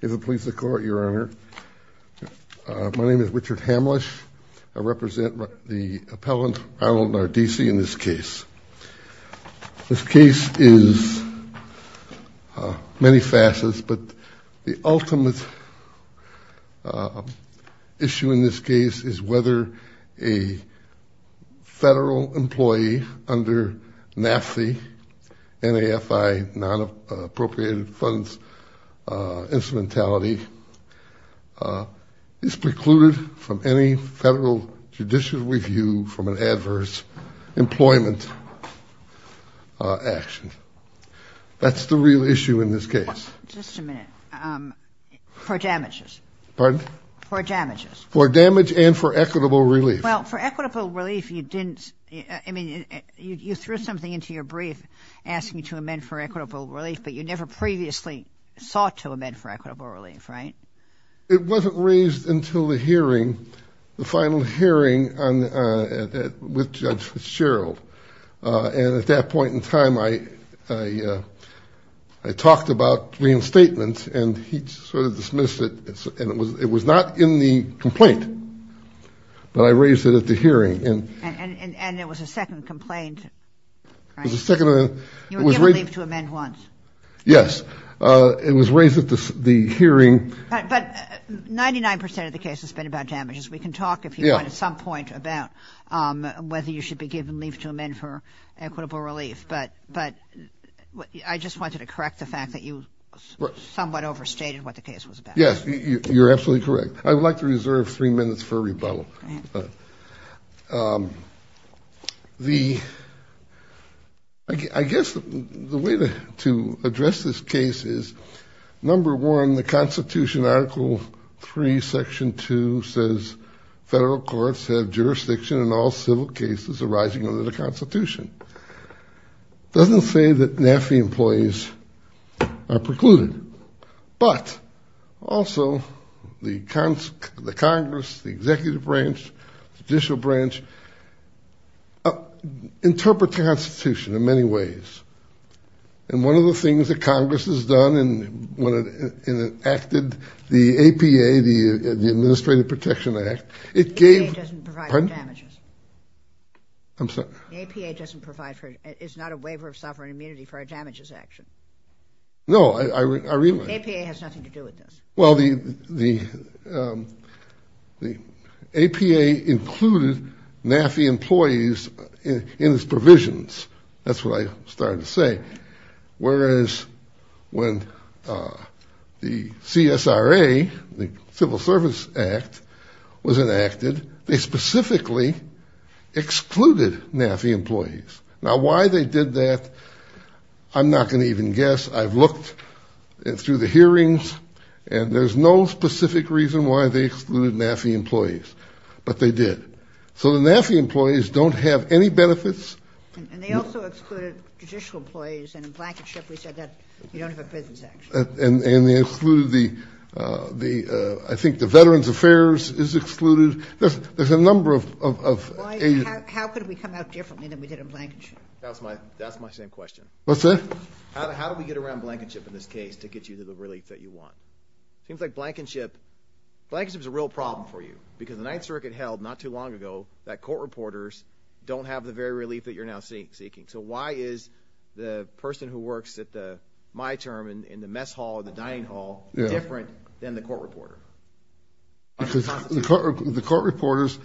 If it pleases the court, your honor, my name is Richard Hamlisch. I represent the appellant, Ronald Nardizzi, in this case. This case is many facets, but the ultimate issue in this case is whether a federal employee under NAFE, N-A-F-I, non-appropriated funds instrumentality, is precluded from any federal judicial review from an adverse employment action. That's the real issue in this case. Just a minute. For damages. Pardon? For damages. For damage and for equitable relief. Well, for equitable relief, you didn't, I mean, you threw something into your brief asking to amend for equitable relief, but you never previously sought to amend for equitable relief, right? It wasn't raised until the hearing, the final hearing with Judge Fitzgerald, and at that point in time, I talked about reinstatement, and he sort of dismissed it, and it was not in the complaint, but I raised it at the hearing. And there was a second complaint? There was a second. You were given leave to amend once? Yes. It was raised at the hearing. But 99 percent of the case has been about damages. We can talk, if you want, at some point about whether you should be given leave to amend for equitable relief, but I just wanted to correct the fact that you somewhat overstated what the case was about. Yes, you're absolutely correct. I would like to reserve three minutes for that. I guess the way to address this case is, number one, the Constitution, Article 3, Section 2, says federal courts have jurisdiction in all civil cases arising under the Constitution. It doesn't say that NAFI employees are precluded, but also the Congress, the Executive Branch, the Judicial Branch, interpret the Constitution in many ways. And one of the things that Congress has done, and when it acted, the APA, the Administrative Protection Act, it gave... The APA doesn't provide for damages. I'm sorry? The APA doesn't provide for... it's not a waiver of sovereign immunity for a damages action. No, I realize... The APA has nothing to do with this. Well, the APA included NAFI employees in its provisions. That's what I started to say. Whereas when the CSRA, the Civil Service Act, was enacted, they specifically excluded NAFI employees. Now, why they did that, I'm not going to even guess. I've looked through the hearings, and there's no specific reason why they excluded NAFI employees, but they did. So the NAFI employees don't have any benefits. And they also excluded judicial employees, and in Blankenship we said that you don't have a business action. And they excluded the... I think the Veterans Affairs is excluded. There's a number of... How could we come out differently than we did in Blankenship? That's my same question. How do we get around Blankenship in this case to get you to the relief that you want? Seems like Blankenship... Blankenship is a real problem for you. Because the 9th Circuit held, not too long ago, that court reporters don't have the very relief that you're now seeking. So why is the person who works at the, my term, in the mess hall or the dining hall, different than the court reporter? Because the court reporters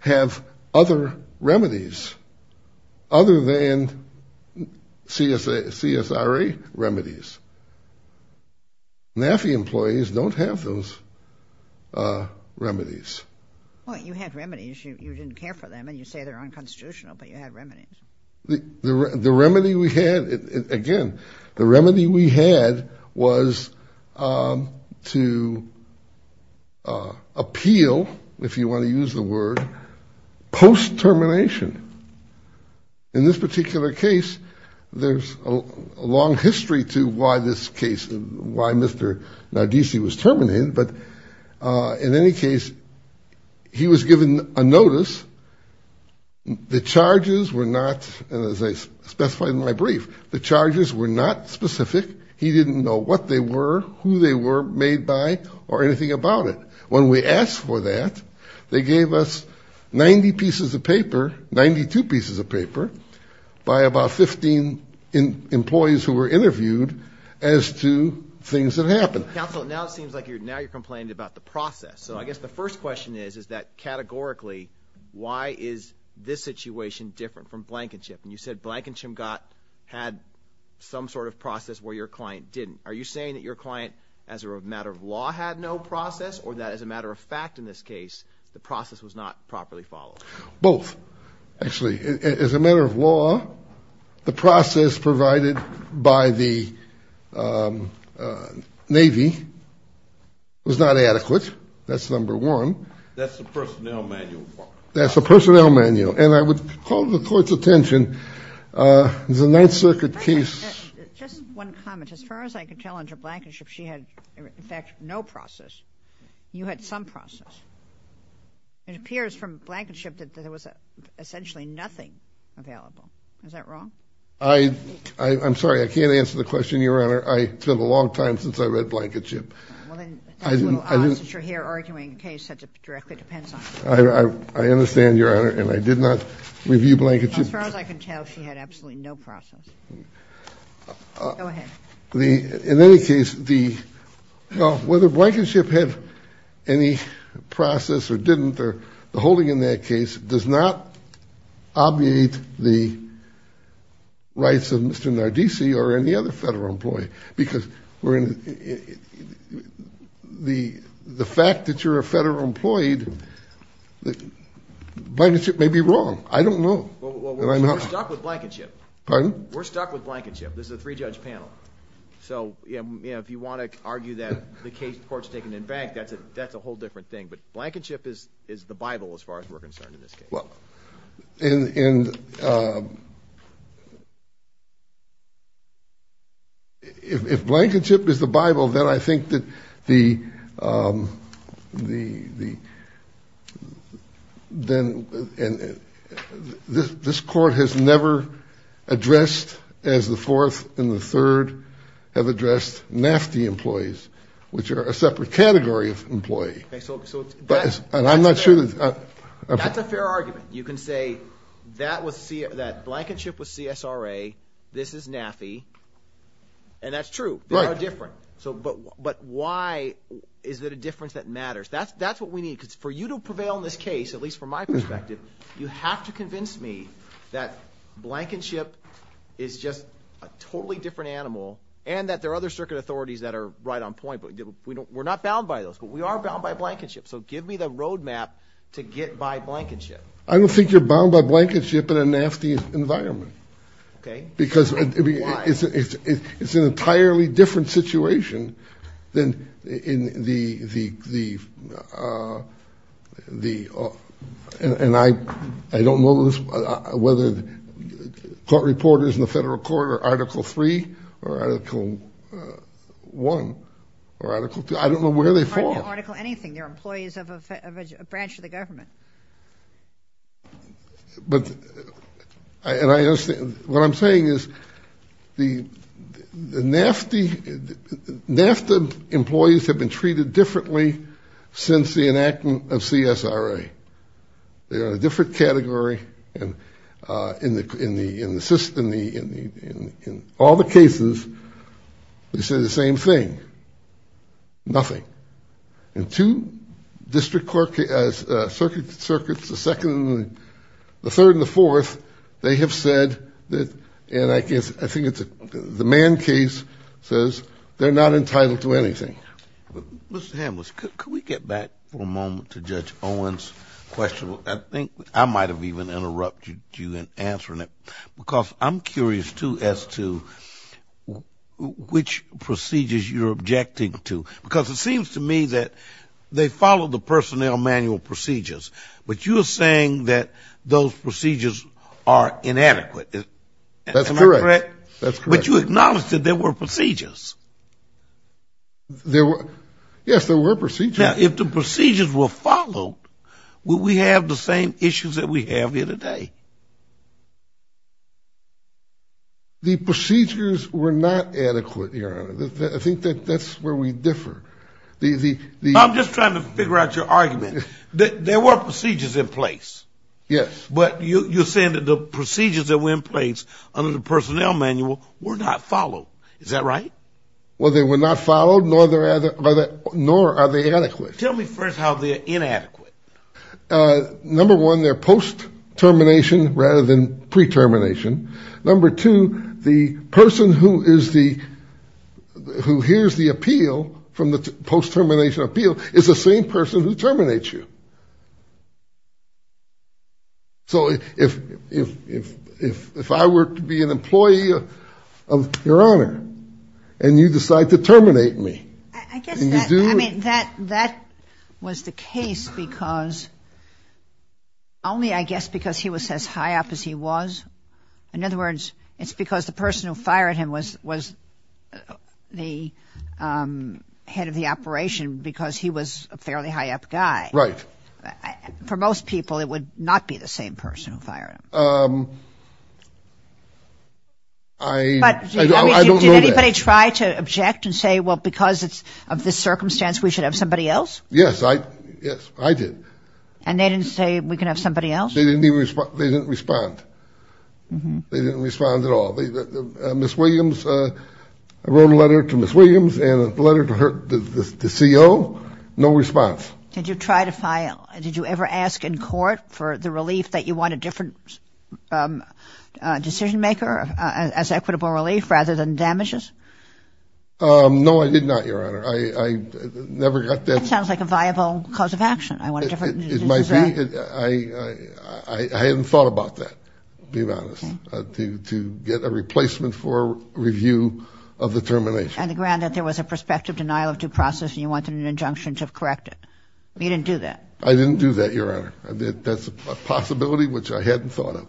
have other remedies, other than CSRA remedies. NAFI employees don't have those remedies. Well, you had remedies. You didn't care for them, and you say they're unconstitutional, but you had remedies. The remedy we had, again, the remedy we had was to appeal, if you want to use the word, post-termination. In this particular case, there's a long history to why this case, why Mr. Nardisi was terminated, but in any case, he was given a notice. The charges were not, and as I specified in my brief, the charges were not specific. He didn't know what they were, who they were made by, or anything about it. When we asked for that, they gave us 90 pieces of paper, 92 pieces of paper, by about 15 employees who were interviewed as to things that happened. Counsel, now it seems like you're, now you're complaining about the process. So I guess the first question is, is that categorically, why is this situation different from Blankenship? And you said Blankenship got, had some sort of process where your client didn't. Are you saying that your client, as a matter of law, had no process, or that as a matter of fact in this case, the process was not properly followed? Both. Actually, as a matter of law, the process provided by the Navy was not adequate. That's number one. That's the personnel manual. That's the personnel manual. And I would call the court's attention, the Ninth Circuit case. Just one comment. As far as I could tell under Blankenship, she had, in fact, no process. You had some process. It appears from Blankenship that there was essentially nothing available. Is that wrong? I, I, I'm sorry, I can't answer the question, Your Honor. I, it's been a long time since I read Blankenship. Well then, it's a little odd since you're here arguing a case that directly depends on it. I, I, I understand, Your Honor. And I did not review Blankenship. As far as I can tell, she had absolutely no process. Go ahead. The, in any case, the, well, whether Blankenship had any process or didn't, or the holding in that case does not obviate the rights of Mr. Nardisi or any other federal employee. Because we're in, the, the fact that you're a federal employee, Blankenship may be wrong. I don't know. We're stuck with Blankenship. Pardon? We're stuck with Blankenship. This is a three-judge panel. So, you know, if you want to argue that the case, the court's taken in bank, that's a, that's a whole different thing. But Blankenship is, is the Bible as far as we're concerned in this case. Well, in, in, if, if Blankenship is the Bible, then I think that the, the, the, then, and this, this court has never addressed as the fourth and the third have addressed NAFTE employees, which are a separate category of employee. Okay, so, so. And I'm not sure that. That's a fair argument. You can say that was, that Blankenship was CSRA, this is NAFTE. And that's true. Right. They are different. So, but, but why is it a difference that matters? That's, that's what we need. Because for you to prevail in this case, at least from my perspective, you have to convince me that Blankenship is just a totally different animal and that there are other circuit authorities that are right on point. But we don't, we're not bound by those, but we are bound by Blankenship. So give me the roadmap to get by Blankenship. I don't think you're bound by Blankenship in a NAFTE environment. Okay. Why? Because it's an entirely different situation than in the, the, the, the, and I, I don't know whether court reporters in the federal court are Article 3 or Article 1 or Article 2. I don't know where they fall. Article anything. They're employees of a branch of the government. But, and I, what I'm saying is the, the NAFTE, NAFTE employees have been treated differently since the enactment of CSRA. They are a different category and in the, in the, in the system, in the, in all the cases, they say the same thing. Nothing. And two district court, circuit, circuits, the second, the third, and the fourth, they have said that, and I guess, I think it's a, the Mann case says they're not entitled to anything. Mr. Hamliss, could we get back for a moment to Judge Owen's question? I think I might have even interrupted you in answering it because I'm curious too as to which procedures you're objecting to because it seems to me that they follow the personnel manual procedures, but you're saying that those procedures are inadequate. That's correct. Am I correct? That's correct. But you acknowledged that there were procedures. There were, yes, there were procedures. Now, if the procedures were followed, would we have the same issues that we have here today? The procedures were not adequate, Your Honor. I think that that's where we differ. I'm just trying to figure out your argument. There were procedures in place. Yes. But you're saying that the procedures that were in place under the personnel manual were not followed. Is that right? Well, they were not followed, nor are they adequate. Tell me first how they're inadequate. Number one, they're post-termination rather than pre-termination. Number two, the person who hears the appeal from the post-termination appeal is the same person who terminates you. So if I were to be an employee of Your Honor, and you decide to terminate me. I guess that was the case because only, I guess, because he was as high up as he was. In other words, it's because the person who fired him was the head of the operation because he was a fairly high up guy. Right. For most people, it would not be the same person who fired him. I don't know that. Did anybody try to object and say, well, because of this circumstance, we should have somebody else? Yes, I did. And they didn't say, we can have somebody else? They didn't respond. They didn't respond at all. Ms. Williams, I wrote a letter to Ms. Williams and a letter to CO. No response. Did you try to file, did you ever ask in court for the relief that you want a different decision maker as equitable relief rather than damages? No, I did not, Your Honor. I never got that. That sounds like a viable cause of action. It might be. I hadn't thought about that, to be honest, to get a replacement for review of the termination. On the ground that there was a prospective denial of due process and you wanted an injunction to correct it. You didn't do that. I didn't do that, Your Honor. That's a possibility which I hadn't thought of.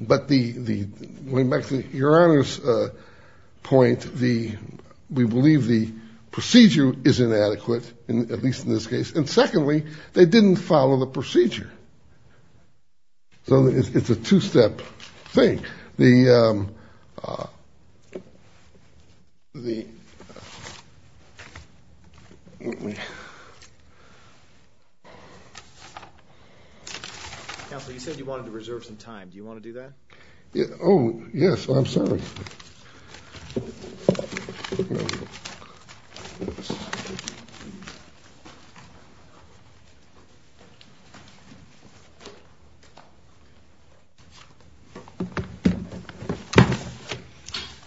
But going back to Your Honor's point, we believe the procedure is inadequate, at least in this case. And secondly, they didn't follow the procedure. So it's a two-step thing. The... Counsel, you said you wanted to reserve some time. Do you want to do that? Oh, yes, I'm sorry.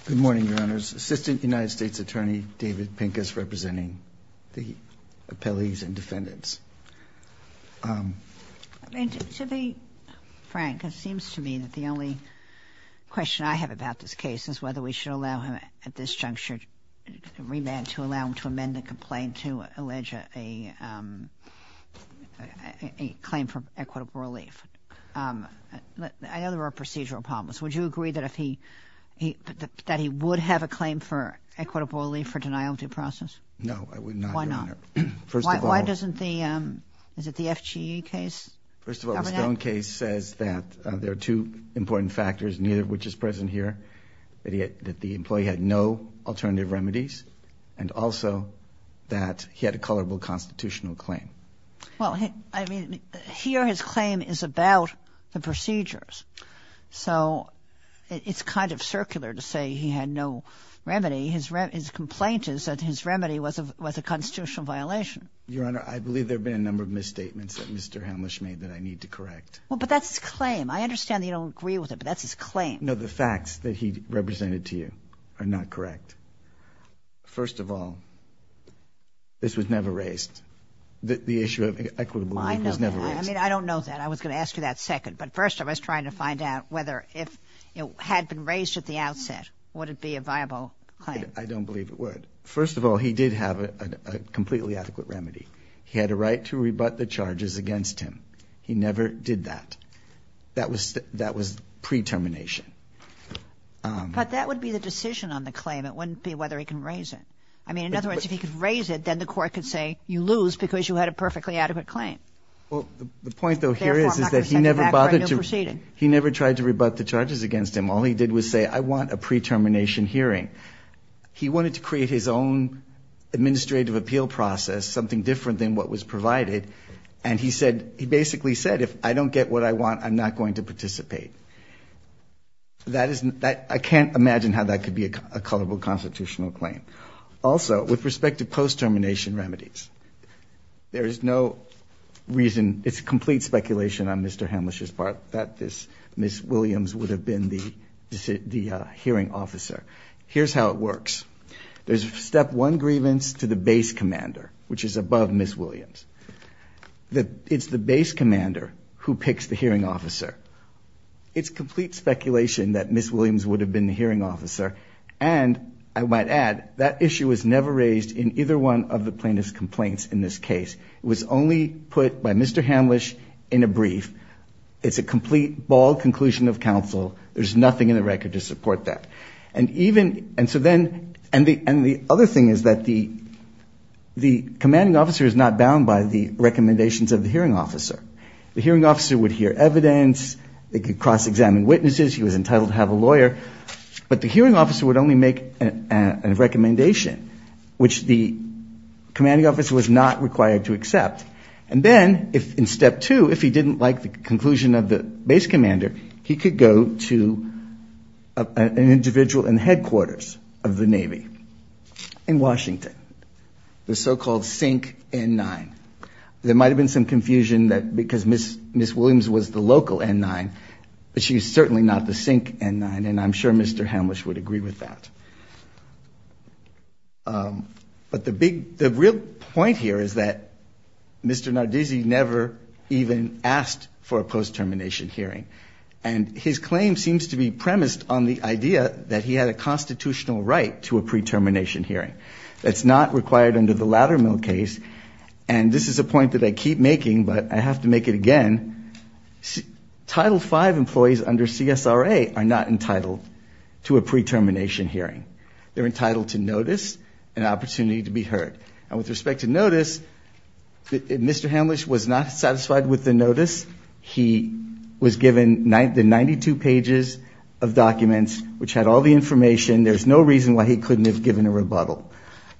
Good morning, Your Honors. Assistant United States Attorney David Pincus representing the appellees and defendants. To be frank, it seems to me that the only question I have about this case is whether we should allow him at this juncture to remand, to allow him to amend the complaint to allege a claim for equitable relief. I know there are procedural problems. Would you agree that he would have a claim for equitable relief for denial of due process? No, I would not, Your Honor. Why not? First of all... Why doesn't the... Is it the FGE case? First of all, the Stone case says that there are two important factors, neither of which is present here, that the employee had no alternative remedies and also that he had a colorable constitutional claim. Well, I mean, here his claim is about the procedures. So it's kind of circular to say he had no remedy. His complaint is that his remedy was a constitutional violation. Your Honor, I believe there have been a number of misstatements that Mr. Hemlisch made that I need to correct. Well, but that's his claim. I understand that you don't agree with it, but that's his claim. No, the facts that he represented to you are not correct. First of all, this was never raised. The issue of equitable relief was never raised. I know that. I mean, I don't know that. I was going to ask you that second. But first I was trying to find out whether if it had been raised at the outset, would it be a viable claim? I don't believe it would. First of all, he did have a completely adequate remedy. He had a right to rebut the charges against him. He never did that. That was pre-termination. But that would be the decision on the claim. It wouldn't be whether he can raise it. I mean, in other words, if he could raise it, then the court could say you lose because you had a perfectly adequate claim. Well, the point, though, here is that he never tried to rebut the charges against him. All he did was say, I want a pre-termination hearing. He wanted to create his own administrative appeal process, something different than what was provided. And he basically said, if I don't get what I want, I'm not going to participate. I can't imagine how that could be a colorable constitutional claim. Also, with respect to post-termination remedies, there is no reason, it's complete speculation on Mr. Hamlisch's part, that Miss Williams would have been the hearing officer. Here's how it works. There's a step one grievance to the base commander, which is above Miss Williams. It's the base commander who picks the hearing officer. It's complete speculation that Miss Williams would have been the hearing officer. And I might add, that issue was never raised in either one of the plaintiff's complaints in this case. It was only put by Mr. Hamlisch in a brief. It's a complete, bald conclusion of counsel. There's nothing in the record to support that. And the other thing is that the commanding officer is not bound by the recommendations of the hearing officer. The hearing officer would hear evidence. They could cross-examine witnesses. He was entitled to have a lawyer. But the hearing officer would only make a recommendation, which the commanding officer was not required to accept. And then, in step two, if he didn't like the conclusion of the base commander, he could go to an individual in the headquarters of the Navy in Washington, the so-called Sink N-9. There might have been some confusion that because Miss Williams was the local N-9, that she's certainly not the Sink N-9, and I'm sure Mr. Hamlisch would agree with that. But the real point here is that Mr. Nardizzi never even asked for a post-termination hearing, and his claim seems to be premised on the idea that he had a constitutional right to a pre-termination hearing. That's not required under the Laddermill case, and this is a point that I keep making, but I have to make it again. Title V employees under CSRA are not entitled to a pre-termination hearing. They're entitled to notice and opportunity to be heard. And with respect to notice, if Mr. Hamlisch was not satisfied with the notice, he was given the 92 pages of documents, which had all the information. There's no reason why he couldn't have given a rebuttal.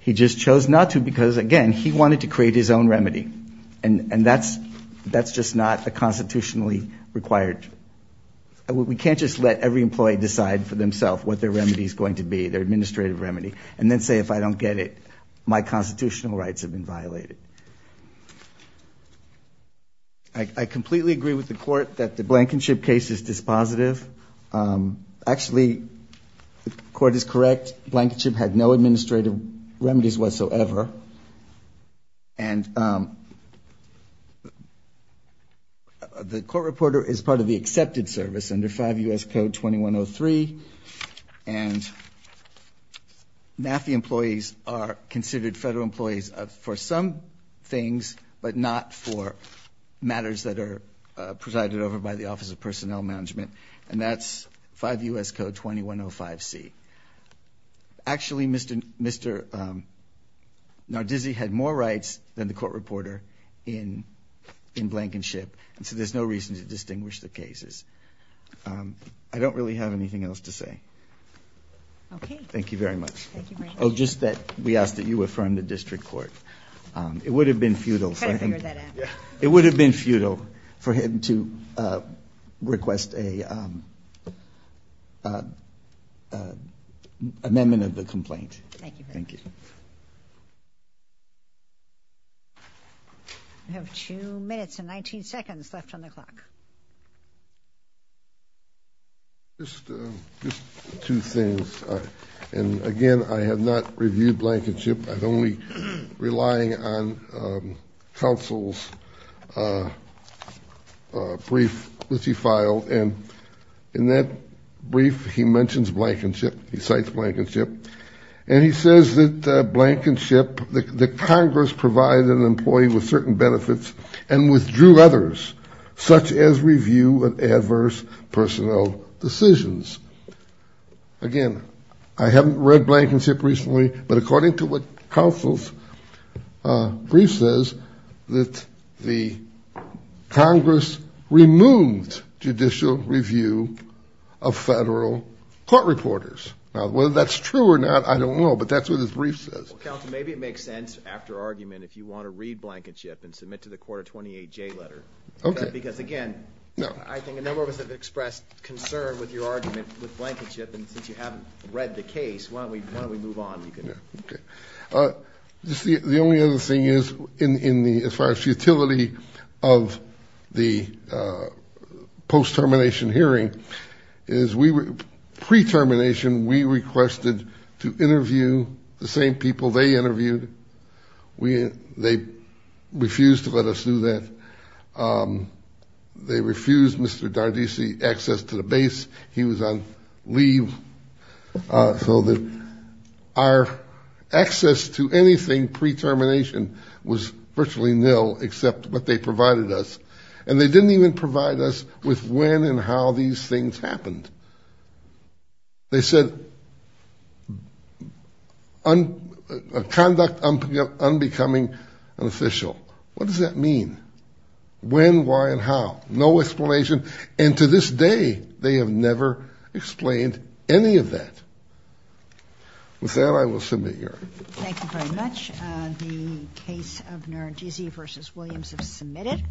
He just chose not to because, again, he wanted to create his own remedy, and that's just not a constitutionally required... We can't just let every employee decide for themselves what their remedy is going to be, their administrative remedy, and then say, if I don't get it, my constitutional rights have been violated. I completely agree with the Court that the Blankenship case is dispositive. Actually, the Court is correct. Blankenship had no administrative remedies whatsoever, and the Court Reporter is part of the accepted service under 5 U.S. Code 2103, and NAFI employees are considered federal employees for some things, but not for matters that are presided over by the Office of Personnel Management, and that's 5 U.S. Code 2105C. Actually, Mr. Nardizzi had more rights than the Court Reporter in Blankenship, and so there's no reason to distinguish the cases. I don't really have anything else to say. Okay. Thank you very much. Thank you very much. Oh, just that we ask that you affirm the district court. It would have been futile... Try to figure that out. It would have been futile for him to request an amendment of the complaint. Thank you very much. Thank you. We have 2 minutes and 19 seconds left on the clock. Just two things. Again, I have not reviewed Blankenship. I'm only relying on counsel's brief, which he filed, and in that brief, he mentions Blankenship. He cites Blankenship, and he says that Blankenship, that Congress provided an employee with certain benefits and withdrew others, such as review of adverse personnel decisions. Again, I haven't read Blankenship recently, but according to what counsel's brief says, that the Congress removed judicial review of federal court reporters. Now, whether that's true or not, I don't know, but that's what his brief says. Counsel, maybe it makes sense, after argument, if you want to read Blankenship and submit to the court a 28-J letter. Okay. Because, again, I think a number of us have expressed concern with your argument with Blankenship, and since you haven't read the case, why don't we move on? Okay. The only other thing is, as far as the utility of the post-termination hearing, is pre-termination we requested to interview the same people they interviewed. They refused to let us do that. They refused Mr. Dardissi access to the base. He was on leave. So our access to anything pre-termination was virtually nil, except what they provided us. And they didn't even provide us with when and how these things happened. They said conduct unbecoming unofficial. What does that mean? When, why, and how? No explanation. And to this day, they have never explained any of that. With that, I will submit your argument. Thank you very much. The case of Nardizzi v. Williams is submitted.